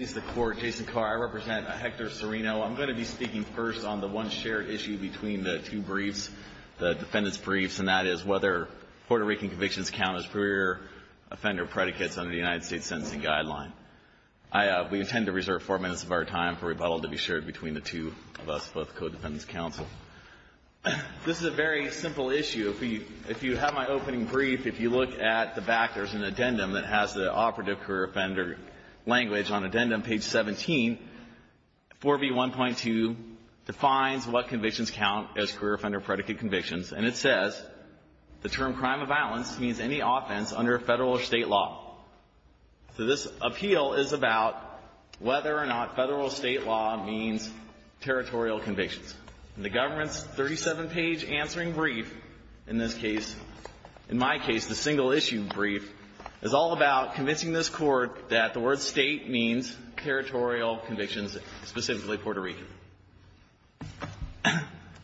I represent Hector Cirino. I'm going to be speaking first on the one shared issue between the two briefs, the defendants' briefs, and that is whether Puerto Rican convictions count as career offender predicates under the United States Sentencing Guideline. We intend to reserve four minutes of our time for rebuttal to be shared between the two of us, both co-defendants' counsel. This is a very simple issue. If you have my opening brief, if you look at the back, there's an addendum that has the operative career offender language on addendum, page 17. 4B1.2 defines what convictions count as career offender predicate convictions, and it says the term crime of violence means any offense under federal or state law. So this appeal is about whether or not federal or state law means territorial convictions. In the government's 37-page answering brief, in this case, in my case, the single-issue brief, is all about convincing this Court that the word state means territorial convictions, specifically Puerto Rican.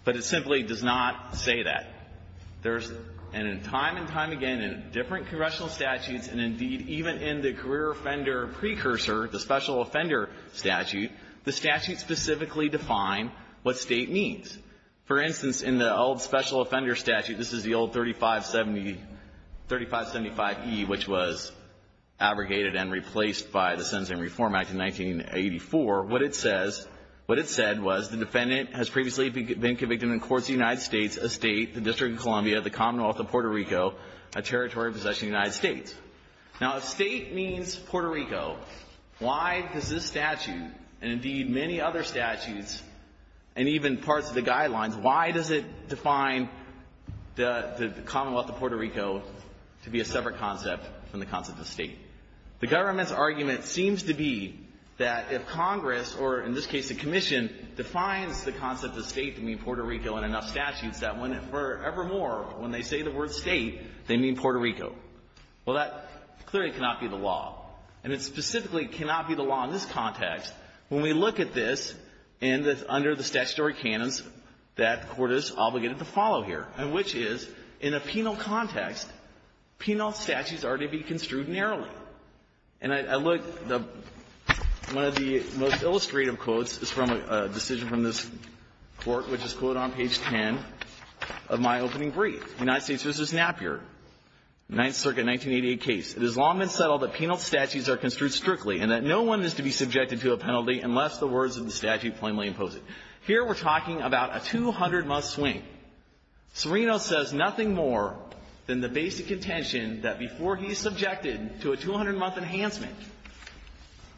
But it simply does not say that. There's, and time and time again, in different congressional statutes and, indeed, even in the career offender precursor, the special offender statute, the statute specifically defined what state means. For instance, in the old special offender statute, this is the old 3575E, which was abrogated and replaced by the Sentencing Reform Act in 1984. What it says, what it said was the defendant has previously been convicted in courts of the United States, a state, the District of Columbia, the Commonwealth of Puerto Rico, a territory of possession in the United States. Now, if state means Puerto Rico, why does this statute, and, indeed, many other statutes, and even parts of the guidelines, why does it define the Commonwealth of Puerto Rico to be a separate concept from the concept of state? The government's argument seems to be that if Congress, or in this case the Commission, defines the concept of state to mean Puerto Rico in enough statutes, that when, forevermore, when they say the word state, they mean Puerto Rico. Well, that clearly cannot be the law. And it specifically cannot be the law in this context when we look at this in the, under the statutory canons that the Court is obligated to follow here, and which is, in a penal context, penal statutes are to be construed narrowly. And I look, one of the most illustrative quotes is from a decision from this Court, which is quoted on page 10 of my opening brief. United States v. Napier, Ninth Circuit, 1988 case. It has long been settled that penal statutes are construed strictly and that no one is to be subjected to a penalty unless the words of the statute plainly impose it. Here we're talking about a 200-month swing. Serino says nothing more than the basic intention that before he is subjected to a 200-month enhancement,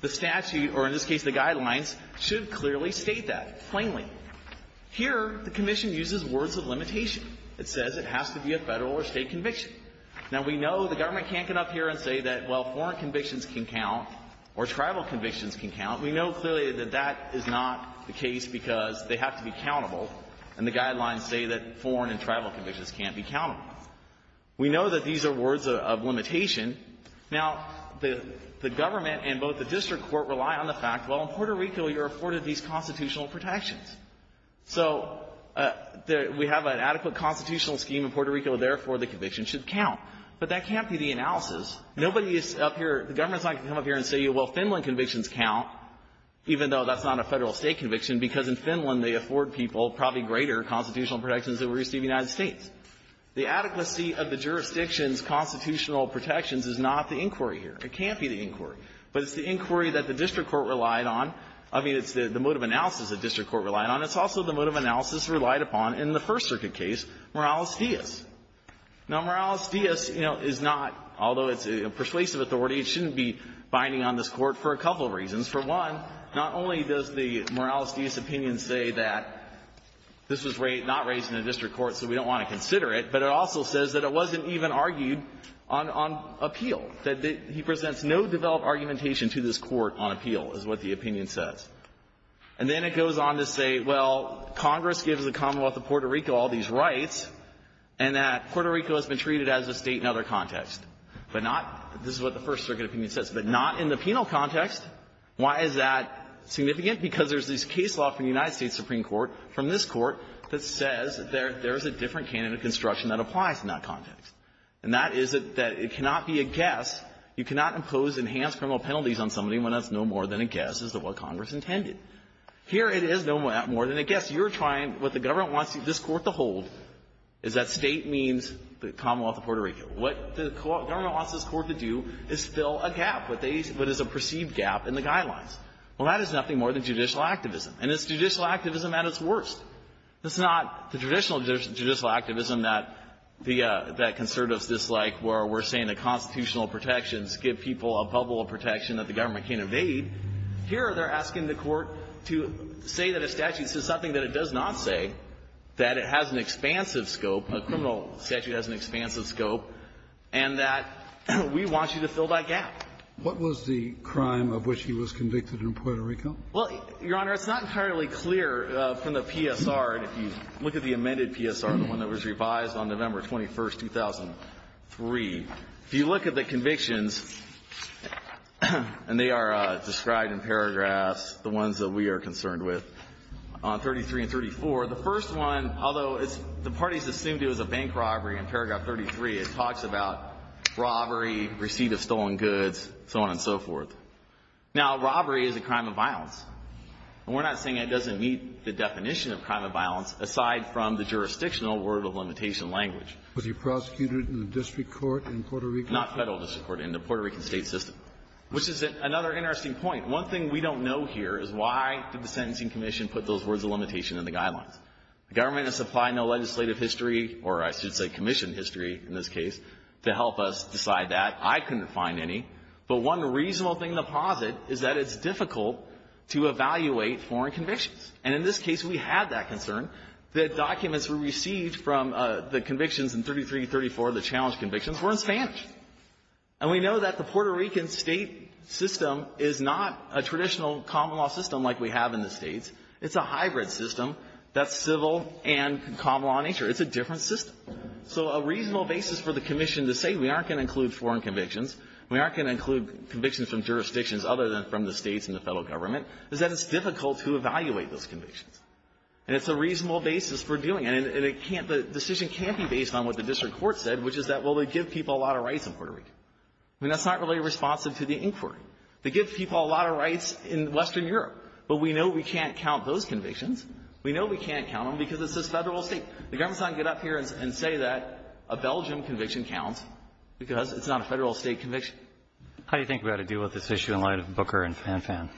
the statute, or in this case the guidelines, should clearly state that, plainly. Here, the Commission uses words of limitation. It says it has to be a Federal or State conviction. Now, we know the government can't come up here and say that, well, foreign convictions can count or tribal convictions can count. We know clearly that that is not the case because they have to be countable, and the guidelines say that foreign and tribal convictions can't be countable. We know that these are words of limitation. Now, the government and both the district court rely on the fact, well, in Puerto Rico you're afforded these constitutional protections. So we have an adequate constitutional scheme in Puerto Rico, therefore, the convictions should count. But that can't be the analysis. Nobody is up here, the government is not going to come up here and say, well, Finland convictions count, even though that's not a Federal or State conviction, because in Finland they afford people probably greater constitutional protections than we receive in the United States. The adequacy of the jurisdiction's constitutional protections is not the inquiry here. It can't be the inquiry. But it's the inquiry that the district court relied on. I mean, it's the mode of analysis the district court relied on. It's also the mode of analysis relied upon in the First Circuit case, Morales-Diaz. Now, Morales-Diaz, you know, is not, although it's a persuasive authority, it shouldn't be binding on this Court for a couple of reasons. For one, not only does the Morales-Diaz opinion say that this was not raised in the district court, so we don't want to consider it, but it also says that it wasn't even argued on appeal, that he presents no developed argumentation to this Court on appeal, is what the opinion says. And then it goes on to say, well, Congress gives the Commonwealth of Puerto Rico all these rights, and that Puerto Rico has been treated as a State in other contexts. But not, this is what the First Circuit opinion says, but not in the penal context. Why is that significant? Because there's this case law from the United States Supreme Court, from this Court, that says there's a different canon of construction that applies in that context. And that is that it cannot be a guess. It's intended. Here it is no more than a guess. You're trying, what the government wants this Court to hold is that State means the Commonwealth of Puerto Rico. What the government wants this Court to do is fill a gap, what they, what is a perceived gap in the guidelines. Well, that is nothing more than judicial activism. And it's judicial activism at its worst. It's not the traditional judicial activism that the, that conservatives dislike, where we're saying that constitutional protections give people a bubble of protection that the government can't evade. Here they're asking the Court to say that a statute says something that it does not say, that it has an expansive scope, a criminal statute has an expansive scope, and that we want you to fill that gap. What was the crime of which he was convicted in Puerto Rico? Well, Your Honor, it's not entirely clear from the PSR, and if you look at the amended PSR, the one that was revised on November 21, 2003, if you look at the convictions, and they are described in paragraphs, the ones that we are concerned with, on 33 and 34, the first one, although it's, the parties assumed it was a bank robbery in paragraph 33, it talks about robbery, receipt of stolen goods, so on and so forth. Now, robbery is a crime of violence. And we're not saying it doesn't meet the definition of crime of violence, aside from the jurisdictional word of limitation language. Was he prosecuted in the district court in Puerto Rico? Not federal district court, in the Puerto Rican state system, which is another interesting point. One thing we don't know here is why did the Sentencing Commission put those words of limitation in the guidelines? The government has supplied no legislative history, or I should say commission history in this case, to help us decide that. I couldn't find any. But one reasonable thing to posit is that it's difficult to evaluate foreign convictions. And in this case, we had that concern that documents were received from the convictions in 33 and 34, the challenge convictions, were in Spanish. And we know that the Puerto Rican state system is not a traditional common law system like we have in the States. It's a hybrid system that's civil and common law in nature. It's a different system. So a reasonable basis for the commission to say we aren't going to include foreign convictions, we aren't going to include convictions from jurisdictions other than from the States and the federal government, is that it's difficult to evaluate those convictions. And it's a reasonable basis for doing it. And it can't be, the decision can't be based on what the district court said, which is that, well, they give people a lot of rights in Puerto Rico. I mean, that's not really responsive to the inquiry. They give people a lot of rights in Western Europe, but we know we can't count those convictions. We know we can't count them because it says federal or state. The government's not going to get up here and say that a Belgium conviction counts because it's not a federal or state conviction. How do you think we ought to deal with this issue in light of Booker and Phan Phan?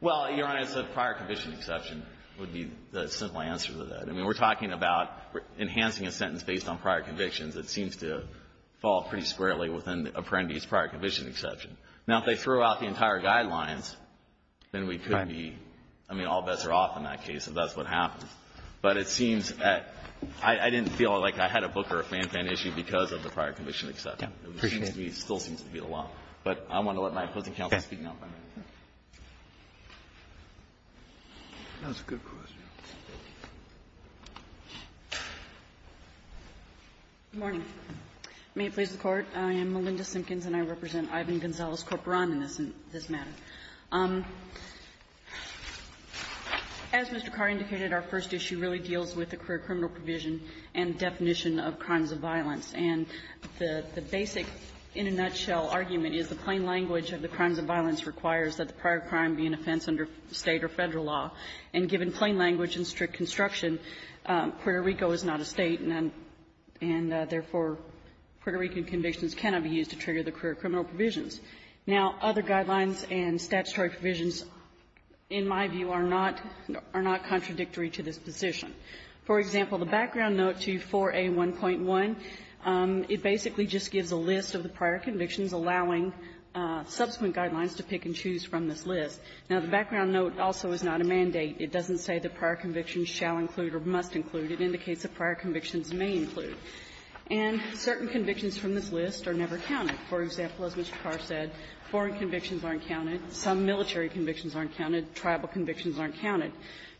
Well, Your Honor, it's a prior conviction exception would be the simple answer to that. I mean, we're talking about enhancing a sentence based on prior convictions. It seems to fall pretty squarely within the apprentice prior conviction exception. Now, if they threw out the entire guidelines, then we could be, I mean, all bets are off in that case if that's what happens. But it seems that I didn't feel like I had a Booker or Phan Phan issue because of the prior conviction exception. It still seems to be the law. But I want to let my opposing counsel speak now. That's a good question. Good morning. May it please the Court. I am Melinda Simpkins, and I represent Ivan Gonzalez Corporan in this matter. As Mr. Carr indicated, our first issue really deals with the career criminal provision and definition of crimes of violence. And the basic, in a nutshell, argument is the plain language of the crimes of violence requires that the prior crime be an offense under State or Federal law. And given plain language and strict construction, Puerto Rico is not a State, and therefore, Puerto Rican convictions cannot be used to trigger the career criminal provisions. Now, other guidelines and statutory provisions, in my view, are not contradictory to this position. For example, the background note to 4A1.1, it basically just gives a list of the prior convictions, allowing subsequent guidelines to pick and choose from this list. Now, the background note also is not a mandate. It doesn't say that prior convictions shall include or must include. It indicates that prior convictions may include. And certain convictions from this list are never counted. For example, as Mr. Carr said, foreign convictions aren't counted. Some military convictions aren't counted. Tribal convictions aren't counted.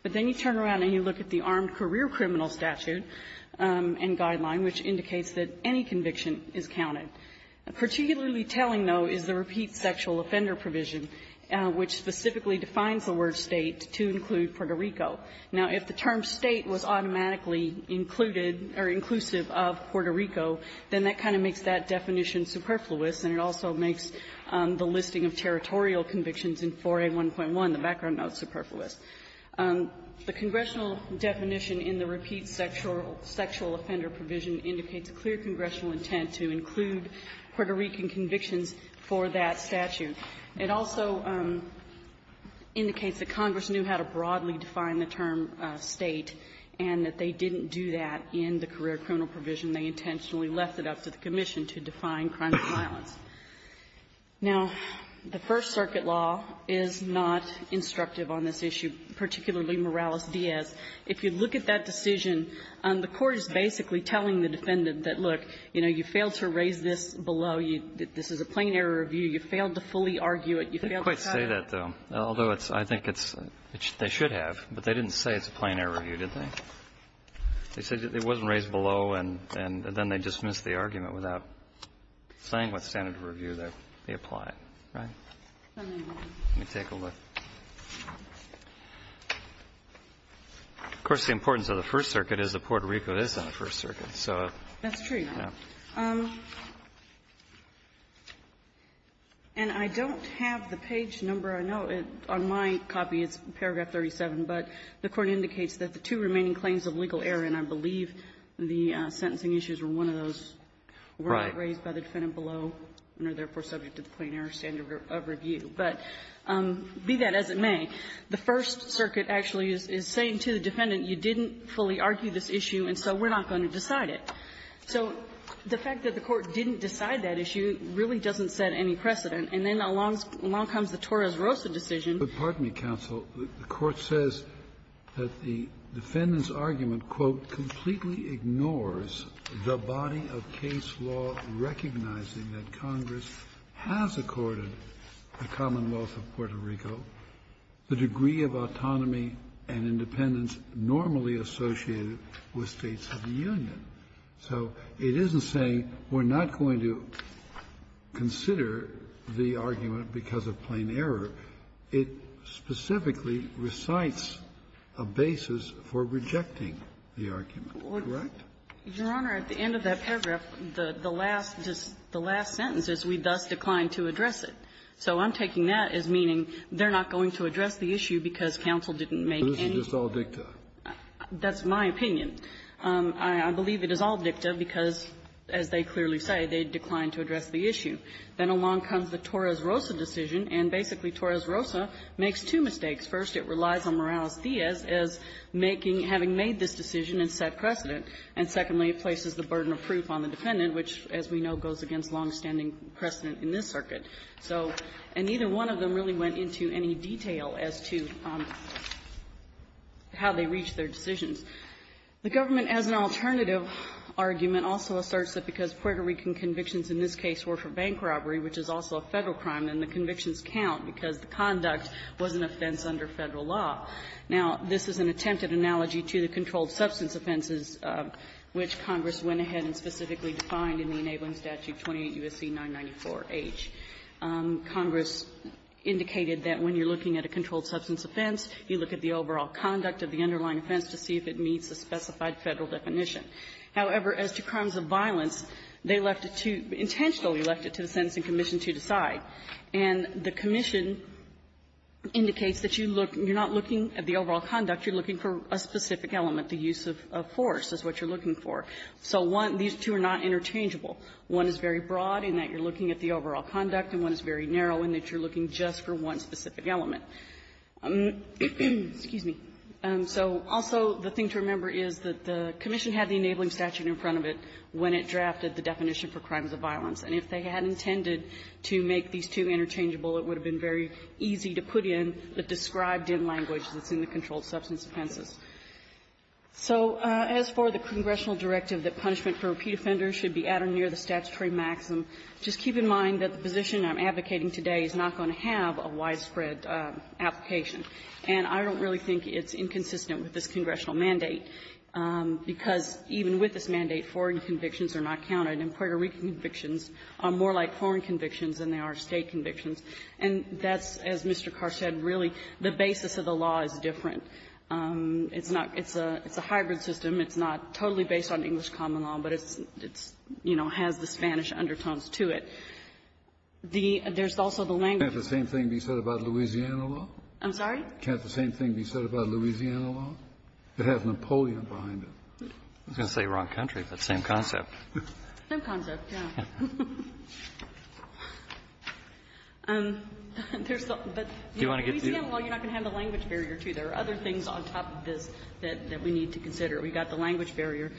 But then you turn around and you look at the armed career criminal statute and guideline, which indicates that any conviction is counted. Particularly telling, though, is the repeat sexual offender provision, which specifically defines the word State to include Puerto Rico. Now, if the term State was automatically included or inclusive of Puerto Rico, then that kind of makes that definition superfluous, and it also makes the listing of territorial convictions in 4A1.1, the background note, superfluous. The congressional definition in the repeat sexual offender provision indicates clear congressional intent to include Puerto Rican convictions for that statute. It also indicates that Congress knew how to broadly define the term State and that they didn't do that in the career criminal provision. They intentionally left it up to the commission to define crime and violence. Now, the First Circuit law is not instructive on this issue, particularly Morales-Diaz. If you look at that decision, the Court is basically telling the defendant that, look, you know, you failed to raise this below. This is a plain error review. You failed to fully argue it. You failed to cite it. They don't quite say that, though, although I think it's they should have. But they didn't say it's a plain error review, did they? They said it wasn't raised below, and then they dismissed the argument without saying what standard of review they applied, right? Let me take a look. Of course, the importance of the First Circuit is that Puerto Rico is on the First Circuit, so. That's true. And I don't have the page number. I know on my copy it's paragraph 37, but the Court indicates that the two remaining claims of legal error, and I believe the sentencing issues were one of those, were not raised by the defendant below and are therefore subject to the plain error standard of review, but be that as it may, the First Circuit actually is saying to the defendant, you didn't fully argue this issue, and so we're not going to decide it. So the fact that the Court didn't decide that issue really doesn't set any precedent. And then along comes the Torres-Rosa decision. Kennedy, I'm sorry, but pardon me, counsel. The Court says that the defendant's argument, quote, completely ignores the body of case law recognizing that Congress has accorded the Commonwealth of Puerto Rico the degree of autonomy and independence normally associated with States of the Union. So it isn't saying we're not going to consider the argument because of plain error. It specifically recites a basis for rejecting the argument, correct? Your Honor, at the end of that paragraph, the last sentence is, we thus declined to address it. So I'm taking that as meaning they're not going to address the issue because counsel didn't make any. So this is just all dicta? That's my opinion. I believe it is all dicta because, as they clearly say, they declined to address the issue. Then along comes the Torres-Rosa decision, and basically Torres-Rosa makes two mistakes. First, it relies on Morales-Diaz as making — having made this decision and set precedent. And secondly, it places the burden of proof on the defendant, which, as we know, goes against longstanding precedent in this circuit. So — and neither one of them really went into any detail as to how they reached their decisions. The government, as an alternative argument, also asserts that because Puerto Rican convictions in this case were for bank robbery, which is also a Federal crime, then the convictions count because the conduct was an offense under Federal law. Now, this is an attempted analogy to the controlled substance offenses, which Congress went ahead and specifically defined in the Enabling Statute 28 U.S.C. 994h. Congress indicated that when you're looking at a controlled substance offense, you look at the overall conduct of the underlying offense to see if it meets the specified Federal definition. However, as to crimes of violence, they left it to — intentionally left it to the sentencing commission to decide. And the commission indicates that you look — you're not looking at the overall conduct, you're looking for a specific element, the use of force is what you're looking for. So one — these two are not interchangeable. One is very broad in that you're looking at the overall conduct, and one is very narrow in that you're looking just for one specific element. Excuse me. So also, the thing to remember is that the commission had the Enabling Statute in front of it when it drafted the definition for crimes of violence, and if they had intended to make these two interchangeable, it would have been very easy to put in the described-in language that's in the controlled substance offenses. So as for the congressional directive that punishment for repeat offenders should be at or near the statutory maximum, just keep in mind that the position I'm advocating today is not going to have a widespread application. And I don't really think it's inconsistent with this congressional mandate, because even with this mandate, foreign convictions are not counted. And Puerto Rican convictions are more like foreign convictions than they are State convictions. And that's, as Mr. Carr said, really the basis of the law is different. It's not — it's a hybrid system. It's not totally based on English common law, but it's — it's, you know, has the Spanish undertones to it. The — there's also the language. Kennedy, can't the same thing be said about Louisiana law? I'm sorry? Can't the same thing be said about Louisiana law? It has Napoleon behind it. I was going to say wrong country, but same concept. Same concept, yeah. There's the — but Louisiana law, you're not going to have the language barrier, too. There are other things on top of this that we need to consider. We've got the language barrier,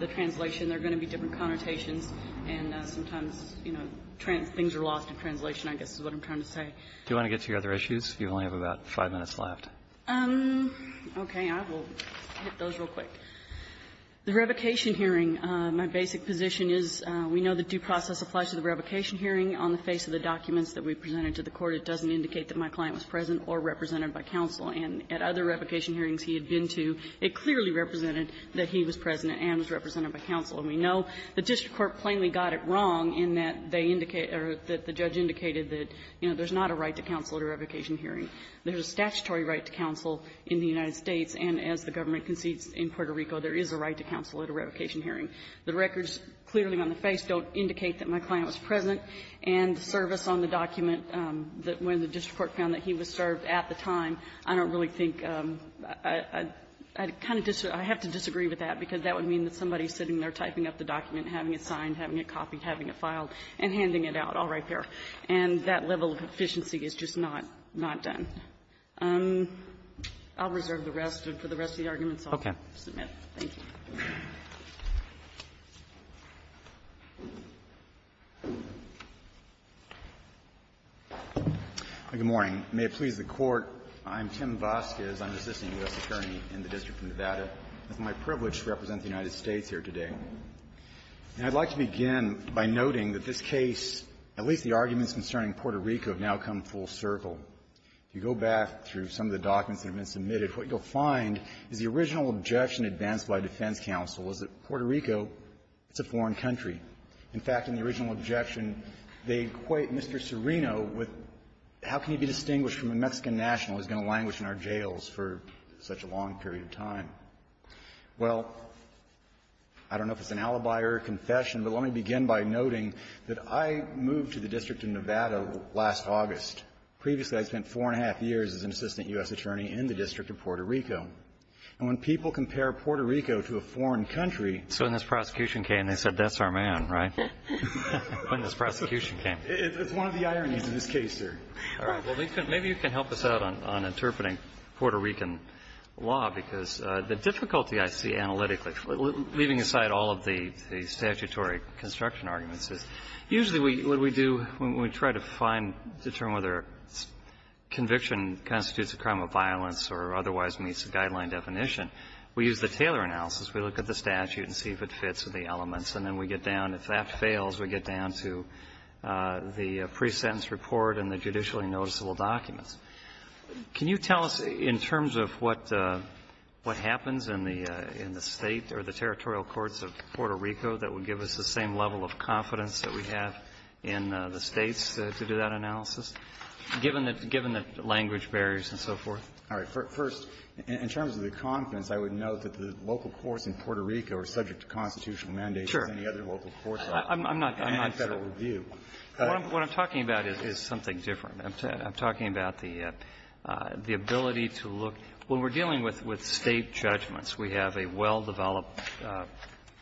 the translation. There are going to be different connotations, and sometimes, you know, things are lost in translation, I guess is what I'm trying to say. Do you want to get to your other issues? You only have about five minutes left. Okay. I will hit those real quick. The revocation hearing, my basic position is, we know the due process applies to the revocation hearing. On the face of the documents that we presented to the Court, it doesn't indicate that my client was present or represented by counsel. And at other revocation hearings he had been to, it clearly represented that he was represented by counsel. And we know the district court plainly got it wrong in that they indicate — or that the judge indicated that, you know, there's not a right to counsel at a revocation hearing. There's a statutory right to counsel in the United States, and as the government concedes in Puerto Rico, there is a right to counsel at a revocation hearing. The records clearly on the face don't indicate that my client was present, and the service on the document that when the district court found that he was served at the time, I don't really think — I kind of — I have to disagree with that, because that would mean that somebody sitting there typing up the document, having it signed, having it copied, having it filed, and handing it out, all right there. And that level of efficiency is just not — not done. I'll reserve the rest, and for the rest of the arguments, I'll submit. Thank you. Voskes, I'm an assistant U.S. attorney in the District of Nevada. It's my privilege to represent the United States here today. And I'd like to begin by noting that this case, at least the arguments concerning Puerto Rico, have now come full circle. If you go back through some of the documents that have been submitted, what you'll find is the original objection advanced by defense counsel was that Puerto Rico, it's a foreign country. In fact, in the original objection, they equate Mr. Serino with how can he be distinguished from a Mexican national who's going to languish in our jails for such a long period of time. Well, I don't know if it's an alibi or a confession, but let me begin by noting that I moved to the District of Nevada last August. Previously, I spent four and a half years as an assistant U.S. attorney in the District of Puerto Rico. And when people compare Puerto Rico to a foreign country — So when this prosecution came, they said, that's our man, right? When this prosecution came. All right. Well, maybe you can help us out on interpreting Puerto Rican law, because the difficulty I see analytically, leaving aside all of the statutory construction arguments, is usually what we do when we try to find, determine whether conviction constitutes a crime of violence or otherwise meets the guideline definition, we use the Taylor analysis. We look at the statute and see if it fits with the elements. And then we get down, if that fails, we get down to the pre-sentence report and the consular documents. Can you tell us, in terms of what happens in the State or the territorial courts of Puerto Rico that would give us the same level of confidence that we have in the States to do that analysis, given the language barriers and so forth? All right. First, in terms of the confidence, I would note that the local courts in Puerto Rico are subject to constitutional mandates as any other local courts are. I'm not — I'm not federal review. What I'm talking about is something different. I'm talking about the ability to look — when we're dealing with State judgments, we have a well-developed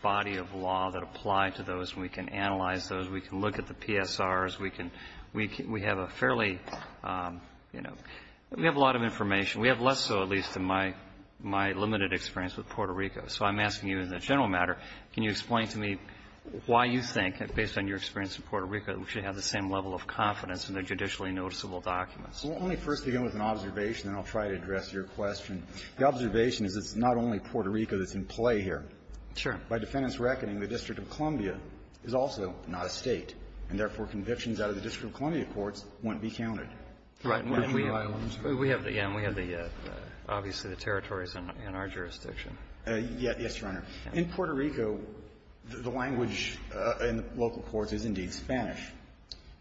body of law that apply to those. We can analyze those. We can look at the PSRs. We can — we have a fairly, you know, we have a lot of information. We have less so, at least, in my limited experience with Puerto Rico. So I'm asking you in the general matter, can you explain to me why you think, based on your experience in Puerto Rico, that we should have the same level of confidence in the judicially noticeable documents? Well, let me first begin with an observation, and I'll try to address your question. The observation is it's not only Puerto Rico that's in play here. Sure. By defendants' reckoning, the District of Columbia is also not a State, and therefore, convictions out of the District of Columbia courts won't be counted. Right. And we have the — yeah, and we have the — obviously, the territories in our jurisdiction. Yes, Your Honor. In Puerto Rico, the language in local courts is indeed Spanish.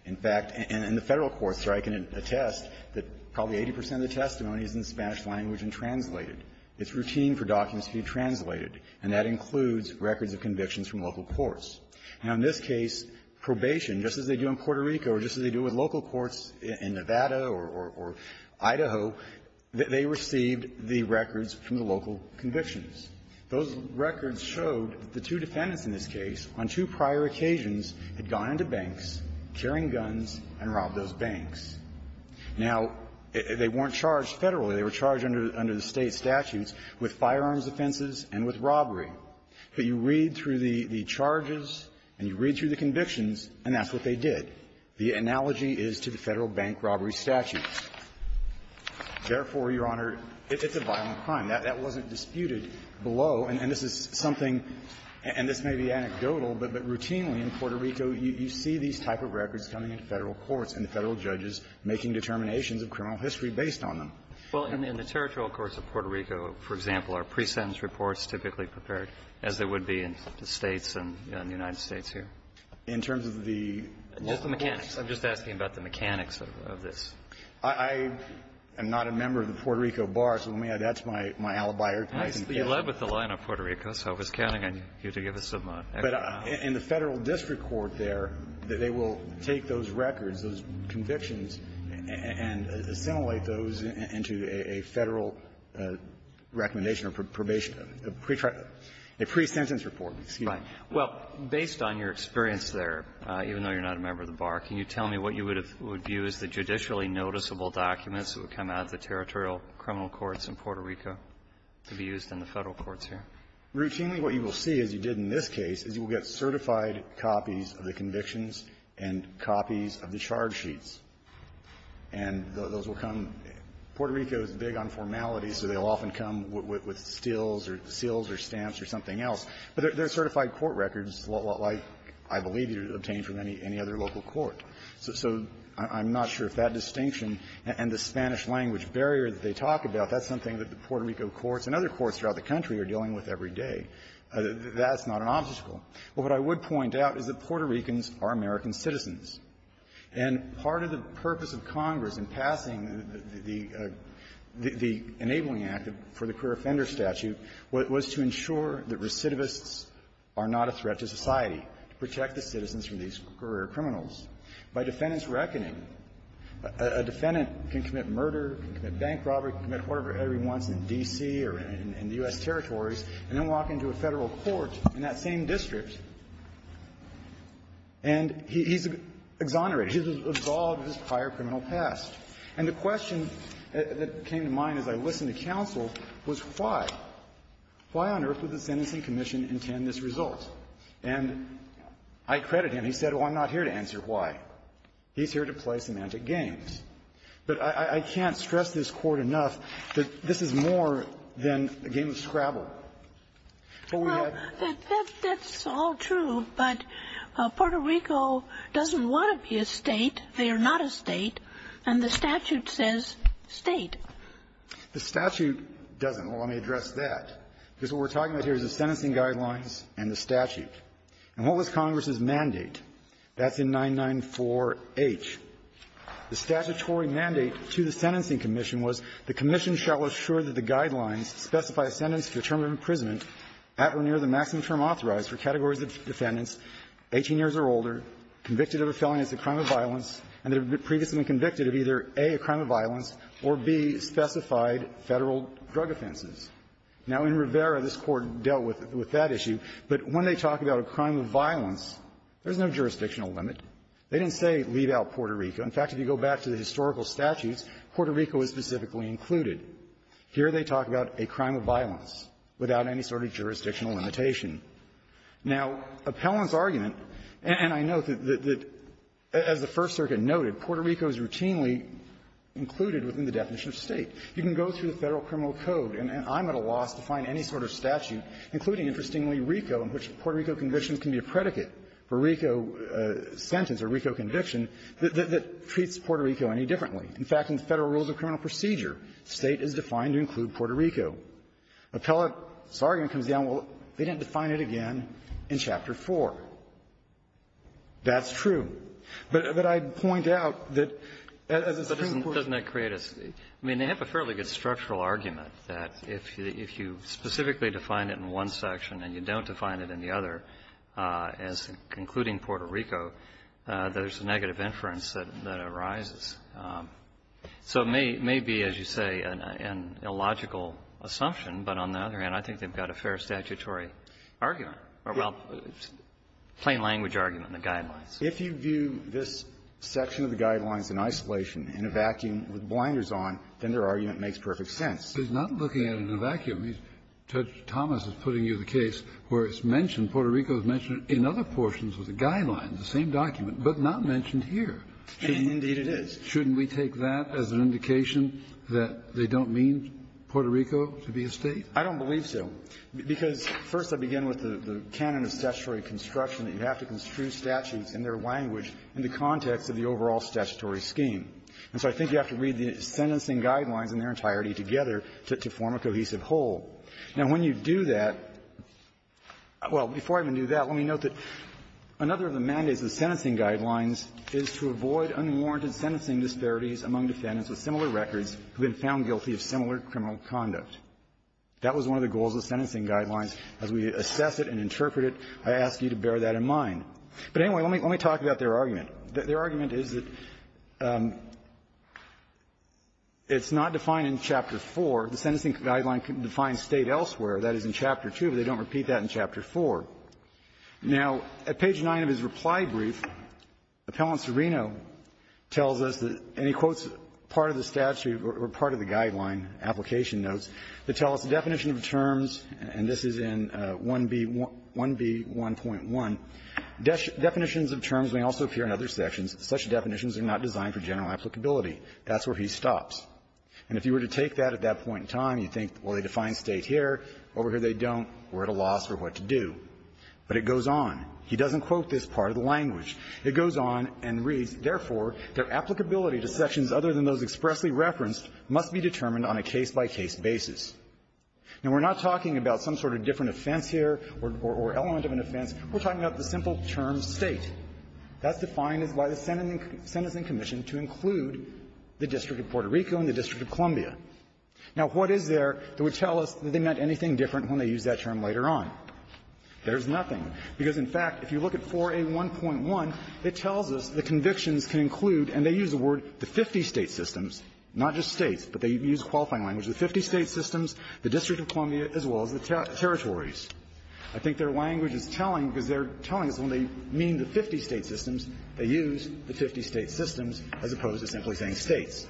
In fact, in the Federal courts, I can attest that probably 80 percent of the testimony is in Spanish language and translated. It's routine for documents to be translated, and that includes records of convictions from local courts. Now, in this case, probation, just as they do in Puerto Rico or just as they do with local courts in Nevada or Idaho, they received the records from the local convictions. Those records showed that the two defendants in this case, on two prior occasions, had gone into banks, carrying guns, and robbed those banks. Now, they weren't charged federally. They were charged under the State statutes with firearms offenses and with robbery. But you read through the charges and you read through the convictions, and that's what they did. The analogy is to the Federal bank robbery statutes. Therefore, Your Honor, it's a violent crime. That wasn't disputed below. And this is something, and this may be anecdotal, but routinely in Puerto Rico, you see these type of records coming into Federal courts and the Federal judges making determinations of criminal history based on them. Well, in the territorial courts of Puerto Rico, for example, are pre-sentence reports typically prepared as they would be in the States and the United States here? In terms of the local courts? I'm just asking about the mechanics of this. I am not a member of the Puerto Rico bar, so that's my alibi. You led with the line of Puerto Rico, so I was counting on you to give a submote. But in the Federal district court there, they will take those records, those convictions, and assimilate those into a Federal recommendation or probation, a pre-sentence report. Right. Well, based on your experience there, even though you're not a member of the bar, can you tell me what you would have viewed as the judicially noticeable documents that would come out of the territorial criminal courts in Puerto Rico? To be used in the Federal courts here. Routinely, what you will see, as you did in this case, is you will get certified copies of the convictions and copies of the charge sheets. And those will come – Puerto Rico is big on formality, so they'll often come with stills or seals or stamps or something else. But they're certified court records, like I believe you would obtain from any other local court. So I'm not sure if that distinction and the Spanish-language barrier that they talk about, that's something that the Puerto Rico courts and other courts throughout the country are dealing with every day. That's not an obstacle. But what I would point out is that Puerto Ricans are American citizens. And part of the purpose of Congress in passing the Enabling Act for the Career Offender Statute was to ensure that recidivists are not a threat to society, to protect the citizens from these career criminals. By defendant's reckoning, a defendant can commit murder, can commit bank robbery, can commit whatever he wants in D.C. or in the U.S. territories, and then walk into a Federal court in that same district, and he's exonerated. He's absolved of his prior criminal past. And the question that came to mind as I listened to counsel was, why? Why on earth would the Sentencing Commission intend this result? And I credit him. He said, well, I'm not here to answer why. He's here to play semantic games. But I can't stress this Court enough that this is more than a game of Scrabble. What we have to do is to say, well, that's all true, but Puerto Rico doesn't want to be a State. They are not a State. And the statute says State. The statute doesn't. Well, let me address that. Because what we're talking about here is the sentencing guidelines and the statute. And what was Congress's mandate? That's in 994H. The statutory mandate to the Sentencing Commission was the commission shall assure that the guidelines specify a sentence for term of imprisonment at or near the maximum term authorized for categories of defendants 18 years or older, convicted of a felony as a crime of violence, and they've previously been convicted of either, A, a crime of violence, or, B, specified Federal drug offenses. Now, in Rivera, this Court dealt with that issue. But when they talk about a crime of violence, there's no jurisdictional limit. They didn't say leave out Puerto Rico. In fact, if you go back to the historical statutes, Puerto Rico is specifically included. Here they talk about a crime of violence without any sort of jurisdictional limitation. Now, Appellant's argument, and I note that, as the First Circuit noted, Puerto Rico is routinely included within the definition of State. You can go through the Federal Criminal Code, and I'm at a loss to find any sort of statute, including, interestingly, RICO, in which Puerto Rico conviction can be a predicate for RICO sentence or RICO conviction that treats Puerto Rico any differently. In fact, in the Federal Rules of Criminal Procedure, State is defined to include Puerto Rico. Appellant's argument comes down, well, they didn't define it again in Chapter 4. That's true. But I'd point out that as a Supreme Court ---- I mean, they have a fairly good structural argument that if you specifically define it in one section and you don't define it in the other as concluding Puerto Rico, there's a negative inference that arises. So it may be, as you say, an illogical assumption, but on the other hand, I think they've got a fair statutory argument, or, well, plain language argument in the Guidelines. If you view this section of the Guidelines in isolation, in a vacuum, with blinders on, then their argument makes perfect sense. Kennedy. But he's not looking at it in a vacuum. He's ---- Judge Thomas is putting you the case where it's mentioned, Puerto Rico is mentioned in other portions of the Guidelines, the same document, but not mentioned here. Phillips. Indeed, it is. Kennedy. Shouldn't we take that as an indication that they don't mean Puerto Rico to be a State? Phillips. I don't believe so, because, first, I begin with the canon of statutory construction, that you have to construe statutes in their language in the context of the overall statutory scheme. And so I think you have to read the sentencing Guidelines in their entirety together to form a cohesive whole. Now, when you do that ---- well, before I even do that, let me note that another of the mandates of the sentencing Guidelines is to avoid unwarranted sentencing disparities among defendants with similar records who have been found guilty of similar criminal conduct. That was one of the goals of the sentencing Guidelines. As we assess it and interpret it, I ask you to bear that in mind. But anyway, let me talk about their argument. Their argument is that it's not defined in Chapter 4. The sentencing Guideline defines State elsewhere. That is in Chapter 2, but they don't repeat that in Chapter 4. Now, at page 9 of his reply brief, Appellant Serino tells us that, and he quotes part of the statute or part of the Guideline application notes, that tell us the definition of the terms, and this is in 1B1.1, And if you were to take that at that point in time, you'd think, well, they define State here. Over here, they don't. We're at a loss for what to do. But it goes on. He doesn't quote this part of the language. It goes on and reads, Therefore, their applicability to sections other than those expressly referenced must be determined on a case-by-case basis. Now, we're not talking about some sort of different offense here or element of an offense. We're talking about the simple term State. That's defined as why the sentencing commission to include the District of Puerto Rico and the District of Columbia. Now, what is there that would tell us that they meant anything different when they use that term later on? There's nothing. Because, in fact, if you look at 4A1.1, it tells us the convictions can include and they use the word the 50 State systems, not just States, but they use a qualifying language, the 50 State systems, the District of Columbia, as well as the territories. I think their language is telling, because they're telling us when they mean the 50 State systems, they use the 50 State systems as opposed to simply saying States.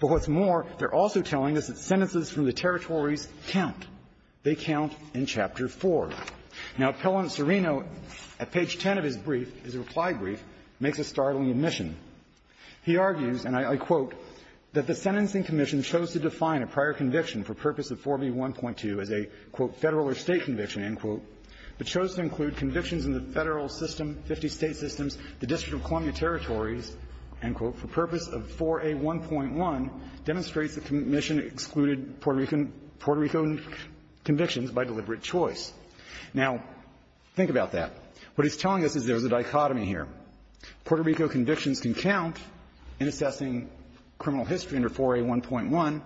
But what's more, they're also telling us that sentences from the territories count. They count in Chapter 4. Now, Appellant Serino, at page 10 of his brief, his reply brief, makes a startling admission. He argues, and I quote, that the sentencing commission chose to define a prior conviction for purpose of 4B1.2 as a, quote, Federal or State conviction, end quote, but chose to include convictions in the Federal system, 50 State systems, the District of Columbia territories, end quote, for purpose of 4A1.1, demonstrates the commission excluded Puerto Rican convictions by deliberate choice. Now, think about that. What he's telling us is there's a dichotomy here. Puerto Rico convictions can count in assessing criminal history under 4A1.1,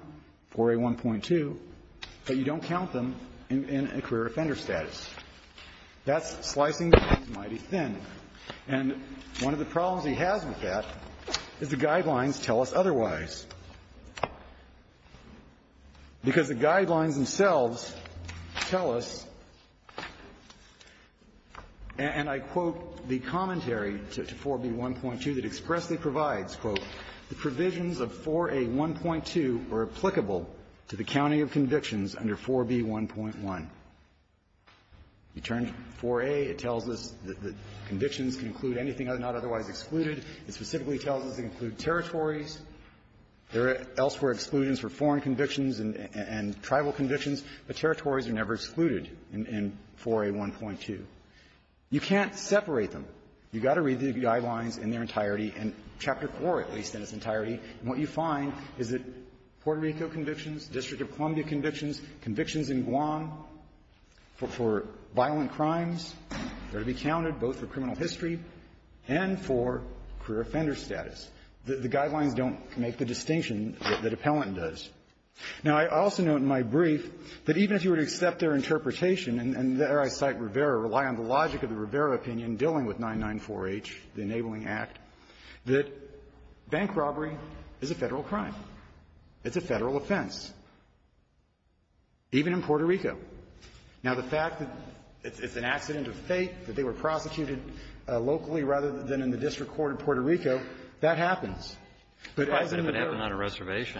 4A1.2, but you don't count them in a career offender status. That's slicing the case mighty thin. And one of the problems he has with that is the guidelines tell us otherwise. Because the guidelines themselves tell us, and I quote the commentary to 4B1.2 that expressly provides, quote, the provisions of 4A1.2 are applicable to the counting of convictions under 4B1.1. You turn to 4A, it tells us that convictions can include anything not otherwise excluded. It specifically tells us they include territories. There are elsewhere exclusions for foreign convictions and tribal convictions, but territories are never excluded in 4A1.2. You can't separate them. You've got to read the guidelines in their entirety, in Chapter 4, at least, in its entirety. And what you find is that Puerto Rico convictions, District of Columbia convictions, convictions in Guam for violent crimes are to be counted both for criminal history and for career offender status. The guidelines don't make the distinction that Appellant does. Now, I also note in my brief that even if you were to accept their interpretation and there I cite Rivera, rely on the logic of the Rivera opinion dealing with 994-H, the Enabling Act, that bank robbery is a Federal crime. It's a Federal offense, even in Puerto Rico. Now, the fact that it's an accident of fate that they were prosecuted locally rather than in the district court of Puerto Rico, that happens. But as in the D.O.A. Kennedy,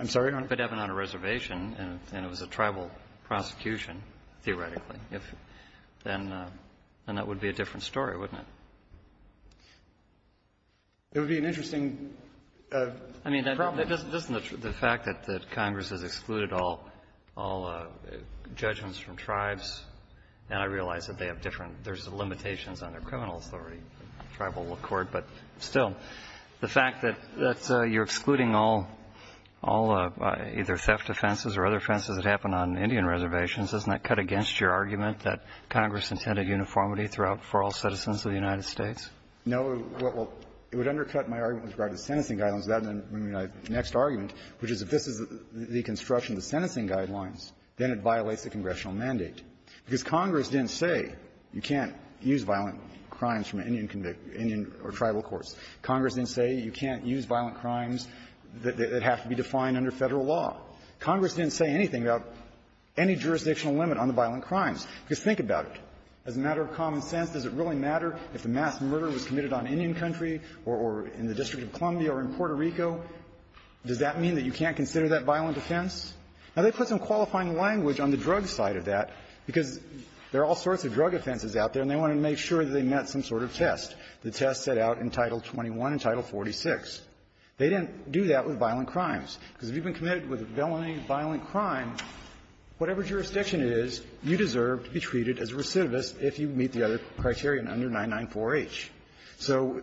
I'm sorry, Your Honor. Kennedy, If it happened on a reservation and it was a tribal prosecution, theoretically, if then that would be a different story, wouldn't it? It would be an interesting problem. I mean, doesn't the fact that Congress has excluded all judgments from tribes and I realize that they have different, there's limitations on their criminal authority, tribal court, but still, the fact that you're excluding all, all either on Indian reservations, doesn't that cut against your argument that Congress intended uniformity throughout for all citizens of the United States? No. Well, it would undercut my argument with regard to the sentencing guidelines without the next argument, which is if this is the construction of the sentencing guidelines, then it violates the congressional mandate. Because Congress didn't say you can't use violent crimes from Indian or tribal courts. Congress didn't say you can't use violent crimes that have to be defined under Federal law. Congress didn't say anything about any jurisdictional limit on the violent crimes. Because think about it. As a matter of common sense, does it really matter if the mass murder was committed on Indian country or in the District of Columbia or in Puerto Rico? Does that mean that you can't consider that violent offense? Now, they put some qualifying language on the drug side of that because there are all sorts of drug offenses out there and they wanted to make sure that they met some sort of test. The test set out in Title 21 and Title 46. They didn't do that with violent crimes. Because if you've been committed with a felony violent crime, whatever jurisdiction it is, you deserve to be treated as a recidivist if you meet the other criteria under 994H. So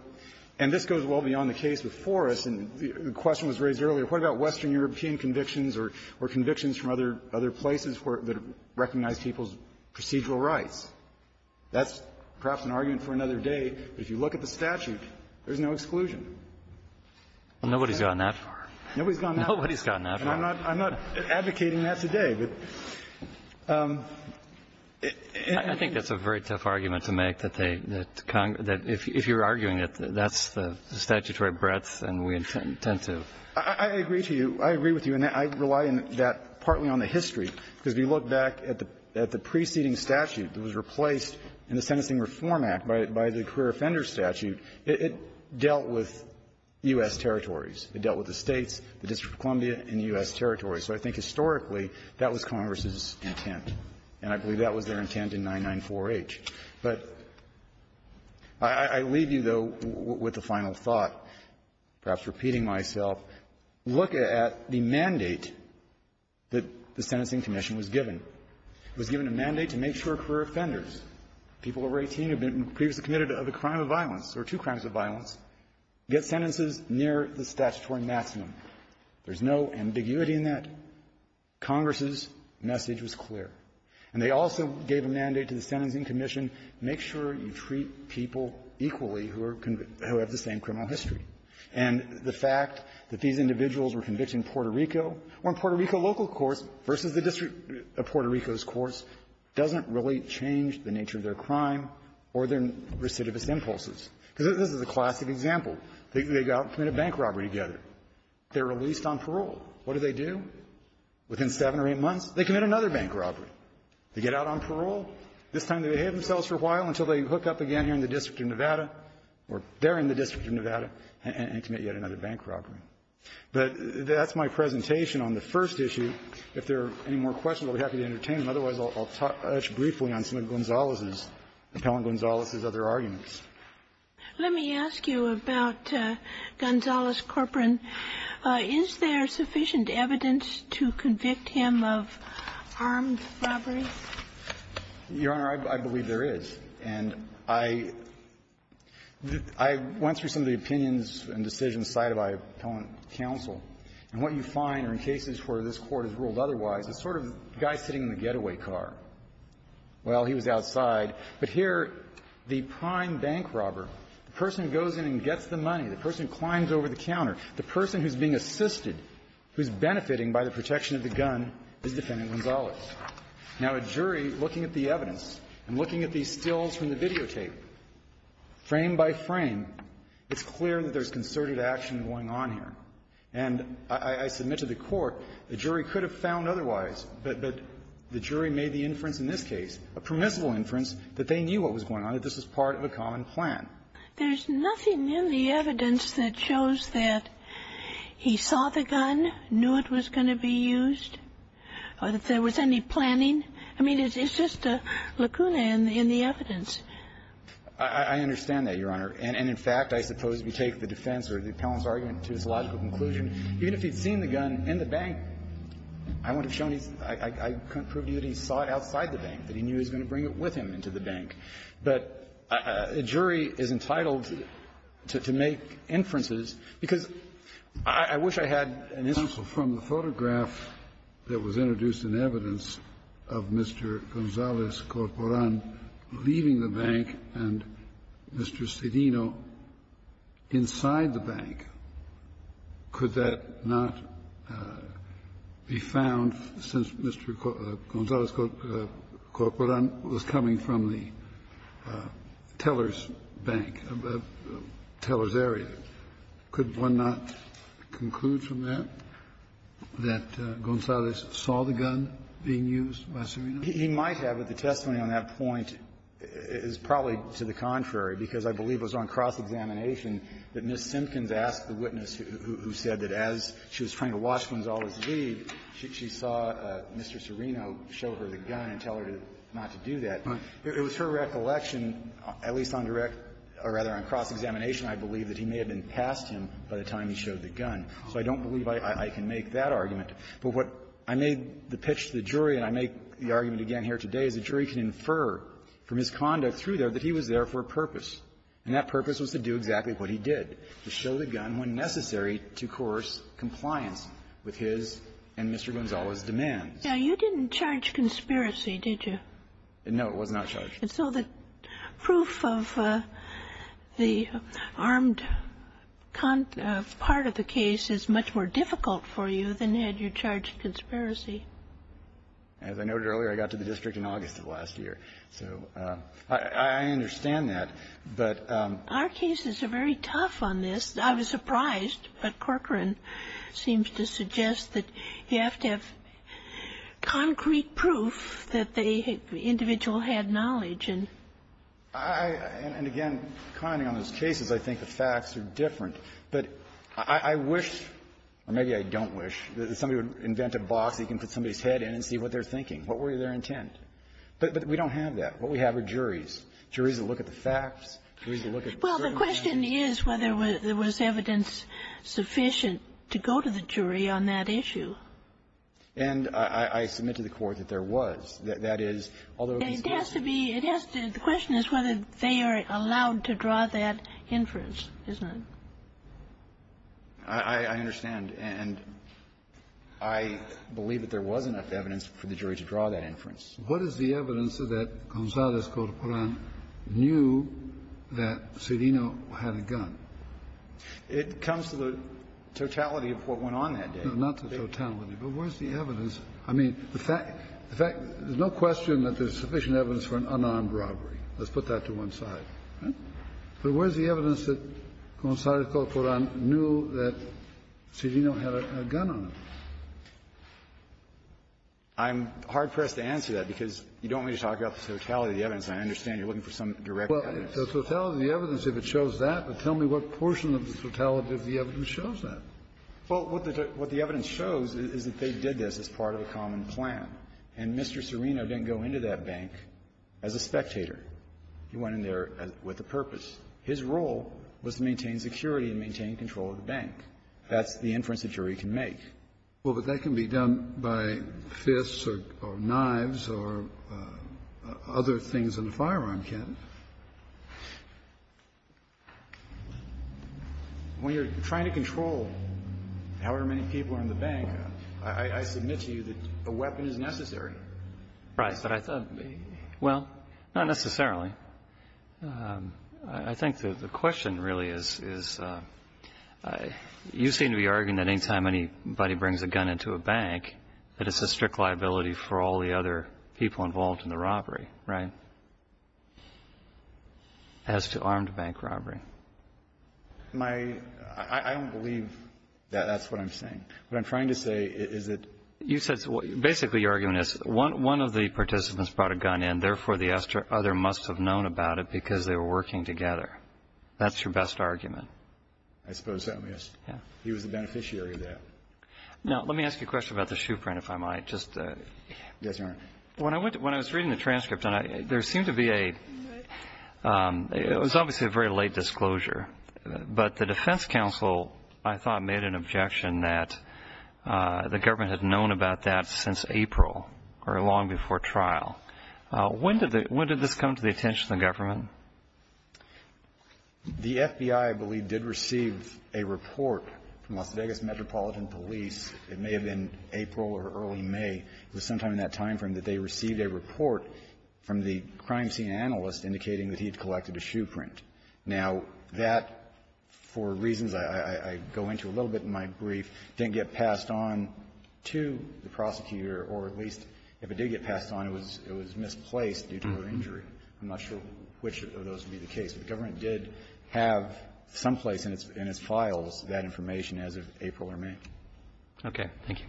and this goes well beyond the case before us. And the question was raised earlier. What about Western European convictions or convictions from other places that recognize people's procedural rights? That's perhaps an argument for another day. But if you look at the statute, there's no exclusion. Nobody's gone that far. Nobody's gone that far. And I'm not advocating that today. But I think that's a very tough argument to make that they – that if you're arguing that that's the statutory breadth and we intend to. I agree to you. I agree with you. And I rely in that partly on the history, because if you look back at the preceding statute that was replaced in the Sentencing Reform Act by the career offender statute, it dealt with U.S. territories. It dealt with the States, the District of Columbia, and U.S. territories. So I think historically, that was Congress's intent. And I believe that was their intent in 994H. But I leave you, though, with a final thought, perhaps repeating myself. Look at the mandate that the Sentencing Commission was given. It was given a mandate to make sure career offenders, people over 18 who have been previously committed of a crime of violence or two crimes of violence, get sentences near the statutory maximum. There's no ambiguity in that. Congress's message was clear. And they also gave a mandate to the Sentencing Commission, make sure you treat people equally who are – who have the same criminal history. And the fact that these individuals were convicted in Puerto Rico or in Puerto Rico local courts versus the District of Puerto Rico's courts doesn't really change the nature of their crime or their recidivist impulses. Because this is a classic example. They go out and commit a bank robbery together. They're released on parole. What do they do? Within seven or eight months, they commit another bank robbery. They get out on parole. This time, they have themselves for a while until they hook up again here in the District of Nevada, or there in the District of Nevada, and commit yet another bank robbery. But that's my presentation on the first issue. If there are any more questions, I'll be happy to entertain them. Otherwise, I'll touch briefly on some of Gonzales' – Appellant Gonzales' other arguments. Let me ask you about Gonzales Corcoran. Is there sufficient evidence to convict him of armed robbery? Your Honor, I believe there is. And I went through some of the opinions and decisions cited by Appellant Counsel. And what you find are in cases where this Court has ruled otherwise, it's sort of the same getaway car. Well, he was outside. But here, the prime bank robber, the person goes in and gets the money, the person climbs over the counter, the person who's being assisted, who's benefiting by the protection of the gun, is Defendant Gonzales. Now, a jury, looking at the evidence and looking at these stills from the videotape, frame by frame, it's clear that there's concerted action going on here. And I submit to the Court, the jury could have found otherwise. But the jury made the inference in this case, a permissible inference, that they knew what was going on, that this was part of a common plan. There's nothing in the evidence that shows that he saw the gun, knew it was going to be used, or that there was any planning. I mean, it's just a lacuna in the evidence. I understand that, Your Honor. And in fact, I suppose if you take the defense or the appellant's argument to his I couldn't prove to you that he saw it outside the bank, that he knew he was going to bring it with him into the bank. But a jury is entitled to make inferences, because I wish I had an instance of the photograph that was introduced in evidence of Mr. Gonzales Corporan leaving the bank and Mr. Cedino inside the bank. Could that not be found since Mr. Gonzales Corporan was coming from the teller's bank, teller's area? Could one not conclude from that that Gonzales saw the gun being used by Cedino? He might have, but the testimony on that point is probably to the contrary, because I believe it was on cross-examination that Ms. Simpkins asked the witness who said that as she was trying to watch Gonzales leave, she saw Mr. Cedino show her the gun and tell her not to do that. It was her recollection, at least on direct or rather on cross-examination, I believe, that he may have been past him by the time he showed the gun. So I don't believe I can make that argument. But what I made the pitch to the jury, and I make the argument again here today, is a jury can infer from his conduct through there that he was there for a purpose, and that purpose was to do exactly what he did, to show the gun when necessary to coerce compliance with his and Mr. Gonzales' demands. Now, you didn't charge conspiracy, did you? No, it was not charged. And so the proof of the armed part of the case is much more difficult for you than had you charged conspiracy. As I noted earlier, I got to the district in August of last year. So I understand that, but ---- Our cases are very tough on this. I was surprised, but Corcoran seems to suggest that you have to have concrete proof that the individual had knowledge and ---- I, and again, commenting on those cases, I think the facts are different. But I wish, or maybe I don't wish, that somebody would invent a box that you can put somebody's head in and see what they're thinking, what were their intent. But we don't have that. What we have are juries, juries that look at the facts, juries that look at the circumstances. Well, the question is whether there was evidence sufficient to go to the jury on that issue. And I submit to the Court that there was. That is, although these cases ---- It has to be, it has to, the question is whether they are allowed to draw that inference, isn't it? I understand. And I believe that there was enough evidence for the jury to draw that inference. What is the evidence that Gonzales Corcoran knew that Serino had a gun? It comes to the totality of what went on that day. Not the totality, but where's the evidence? I mean, the fact, the fact, there's no question that there's sufficient evidence for an unarmed robbery. Let's put that to one side. But where's the evidence that Gonzales Corcoran knew that Serino had a gun on him? I'm hard-pressed to answer that, because you don't want me to talk about the totality of the evidence. I understand you're looking for some direct evidence. Well, the totality of the evidence, if it shows that, but tell me what portion of the totality of the evidence shows that. Well, what the evidence shows is that they did this as part of a common plan. And Mr. Serino didn't go into that bank as a spectator. He went in there with a purpose. His role was to maintain security and maintain control of the bank. That's the inference a jury can make. Well, but that can be done by fists or knives or other things than a firearm can. When you're trying to control however many people are in the bank, I submit to you that a weapon is necessary. Right. Well, not necessarily. I think the question really is, you seem to be arguing that any time anybody brings a gun into a bank, that it's a strict liability for all the other people involved in the robbery, right, as to armed bank robbery. My – I don't believe that that's what I'm saying. What I'm trying to say is that you said – basically, your argument is one of the participants brought a gun in, therefore, the other must have known about it because they were working together. That's your best argument. I suppose so, yes. Yeah. He was the beneficiary of that. Now, let me ask you a question about the shoe print, if I might. Just – Yes, Your Honor. When I went – when I was reading the transcript, there seemed to be a – it was obviously a very late disclosure. But the defense counsel, I thought, made an objection that the government had known about that since April, or long before trial. When did the – when did this come to the attention of the government? The FBI, I believe, did receive a report from Las Vegas Metropolitan Police. It may have been April or early May. It was sometime in that time frame that they received a report from the crime scene analyst indicating that he had collected a shoe print. Now, that, for reasons I go into a little bit in my brief, didn't get passed on to the prosecutor, or at least if it did get passed on, it was misplaced due to an injury. I'm not sure which of those would be the case. But the government did have some place in its files that information as of April or May. Okay. Thank you.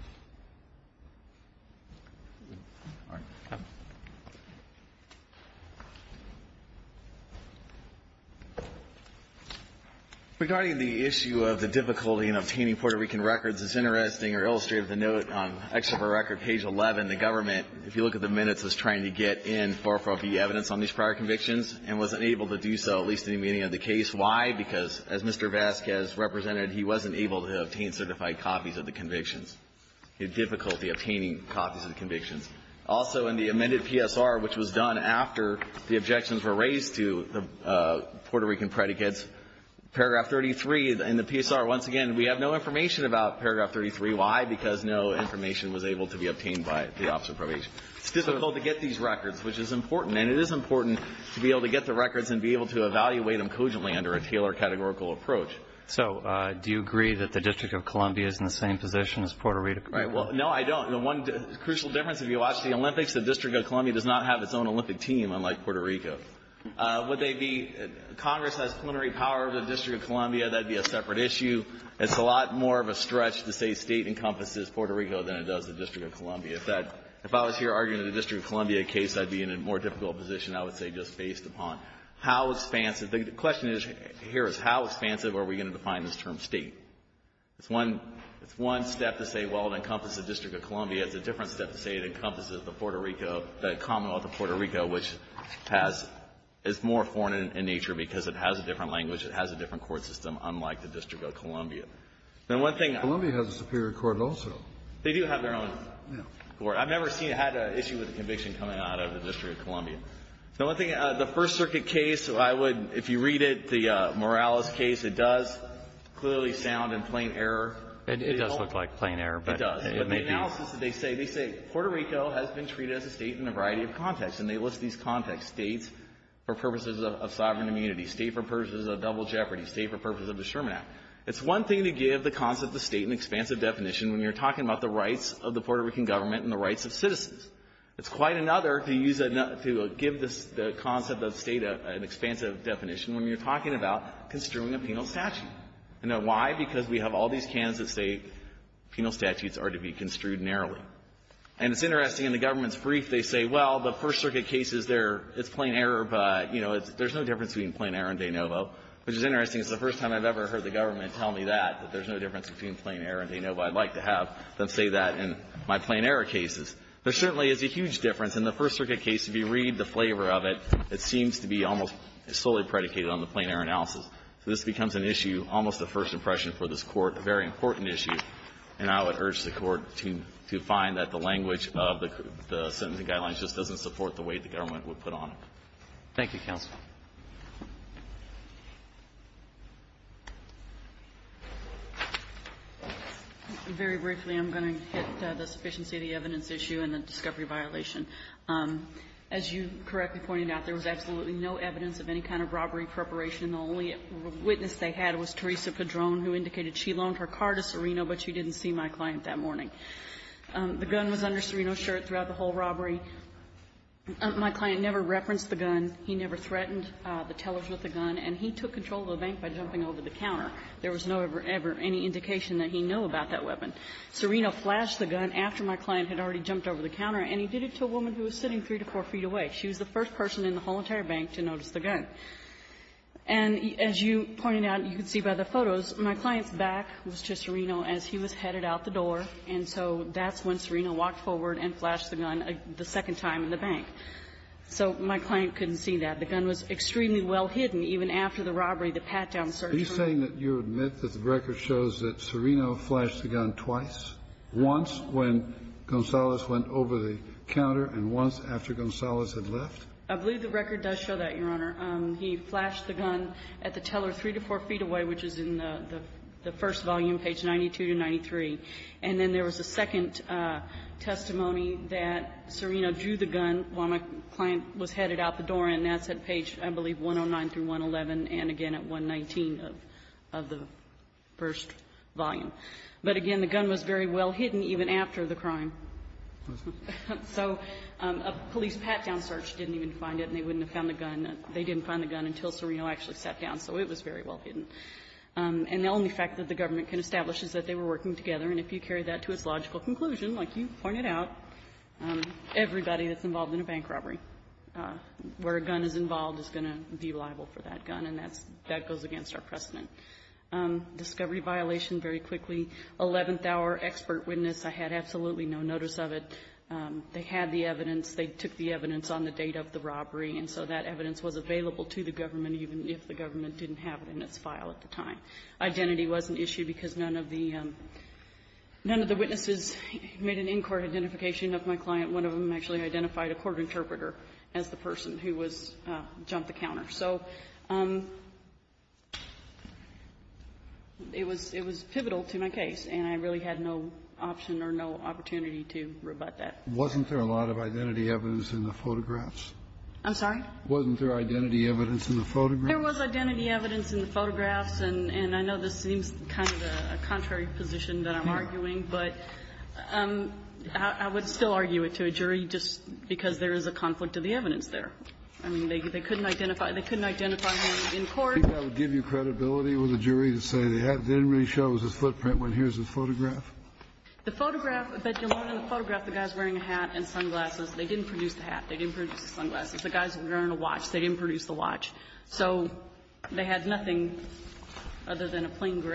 Regarding the issue of the difficulty in obtaining Puerto Rican records, it's interesting or illustrative to note on excerpt of record, page 11, the government, if you look at the minutes, was trying to get in 440B evidence on these prior convictions and wasn't able to do so, at least in the meaning of the case. Why? Because, as Mr. Vasquez represented, he wasn't able to obtain certified copies of the convictions. He had difficulty obtaining copies of the convictions. Also, in the amended PSR, which was done after the objections were raised to the Puerto Rican predicates, paragraph 33 in the PSR, once again, we have no information about paragraph 33. Why? Because no information was able to be obtained by the Office of Probation. It's difficult to get these records, which is important. And it is important to be able to get the records and be able to evaluate them cogently under a Taylor categorical approach. So, do you agree that the District of Columbia is in the same position as Puerto Rico? Right. Well, no, I don't. The one crucial difference, if you watch the Olympics, the District of Columbia does not have its own Olympic team, unlike Puerto Rico. Would they be, Congress has plenary power over the District of Columbia. That'd be a separate issue. It's a lot more of a stretch to say State encompasses Puerto Rico than it does the District of Columbia. If that — if I was here arguing the District of Columbia case, I'd be in a more difficult position, I would say just based upon how expansive — the question here is how expansive are we going to define this term State? It's one — it's one step to say, well, it encompasses the District of Columbia. It's a different step to say it encompasses the Puerto Rico — the commonwealth of Puerto Rico, which has — is more foreign in nature because it has a different court system, unlike the District of Columbia. Now, one thing — Columbia has a superior court also. They do have their own court. I've never seen — had an issue with a conviction coming out of the District of Columbia. Now, one thing, the First Circuit case, I would — if you read it, the Morales case, it does clearly sound in plain error. It does look like plain error, but — It does, but the analysis that they say, they say Puerto Rico has been treated as a State in a variety of contexts, and they list these contexts, States for purposes of sovereign It's one thing to give the concept of State an expansive definition when you're talking about the rights of the Puerto Rican government and the rights of citizens. It's quite another to use a — to give the concept of State an expansive definition when you're talking about construing a penal statute. Now, why? Because we have all these cans that say penal statutes are to be construed narrowly. And it's interesting, in the government's brief, they say, well, the First Circuit case is their — it's plain error, but, you know, there's no difference between plain error and de novo, which is interesting. It's the first time I've ever heard the government tell me that, that there's no difference between plain error and de novo. I'd like to have them say that in my plain error cases. There certainly is a huge difference. In the First Circuit case, if you read the flavor of it, it seems to be almost solely predicated on the plain error analysis. So this becomes an issue, almost a first impression for this Court, a very important issue, and I would urge the Court to — to find that the language of the sentencing guidelines just doesn't support the way the government would put on it. Thank you, counsel. Very briefly, I'm going to hit the sufficiency of the evidence issue and the discovery violation. As you correctly pointed out, there was absolutely no evidence of any kind of robbery preparation. The only witness they had was Teresa Padron, who indicated she loaned her car to Serino, but she didn't see my client that morning. The gun was under Serino's shirt throughout the whole robbery. My client never referenced the gun. He never threatened the tellers with the gun, and he took control of the bank by jumping over the counter. There was no ever any indication that he knew about that weapon. Serino flashed the gun after my client had already jumped over the counter, and he did it to a woman who was sitting three to four feet away. She was the first person in the whole entire bank to notice the gun. And as you pointed out, you can see by the photos, my client's back was to Serino as he was headed out the door, and so that's when Serino walked forward and flashed the gun the second time in the bank. So my client couldn't see that. The gun was extremely well hidden, even after the robbery, the pat-down search. Kennedy. Are you saying that you admit that the record shows that Serino flashed the gun twice, once when Gonzales went over the counter and once after Gonzales had left? I believe the record does show that, Your Honor. He flashed the gun at the teller three to four feet away, which is in the first volume, page 92 to 93. And then there was a second testimony that Serino drew the gun while my client was headed out the door, and that's at page, I believe, 109 through 111, and again at 119 of the first volume. But again, the gun was very well hidden even after the crime. So a police pat-down search didn't even find it, and they wouldn't have found the gun. They didn't find the gun until Serino actually sat down, so it was very well hidden. And the only fact that the government can establish is that they were working together. And if you carry that to its logical conclusion, like you pointed out, everybody that's involved in a bank robbery, where a gun is involved, is going to be liable for that gun, and that's goes against our precedent. Discovery violation, very quickly, eleventh-hour expert witness. I had absolutely no notice of it. They had the evidence. They took the evidence on the date of the robbery, and so that evidence was available to the government, even if the government didn't have it in its file at the time. Identity wasn't issued because none of the witnesses made an in-court identification of my client. One of them actually identified a court interpreter as the person who was jumped the counter. So it was pivotal to my case, and I really had no option or no opportunity to rebut that. Wasn't there a lot of identity evidence in the photographs? I'm sorry? Wasn't there identity evidence in the photographs? There was identity evidence in the photographs, and I know this seems kind of a contrary position that I'm arguing, but I would still argue it to a jury just because there is a conflict of the evidence there. I mean, they couldn't identify him in court. I think I would give you credibility with a jury to say the hat didn't really show his footprint when here's his photograph. The photograph, but you'll learn in the photograph the guy's wearing a hat and sunglasses. They didn't produce the hat. They didn't produce the sunglasses. The guy's wearing a watch. They didn't produce the watch. So they had nothing other than a plain gray.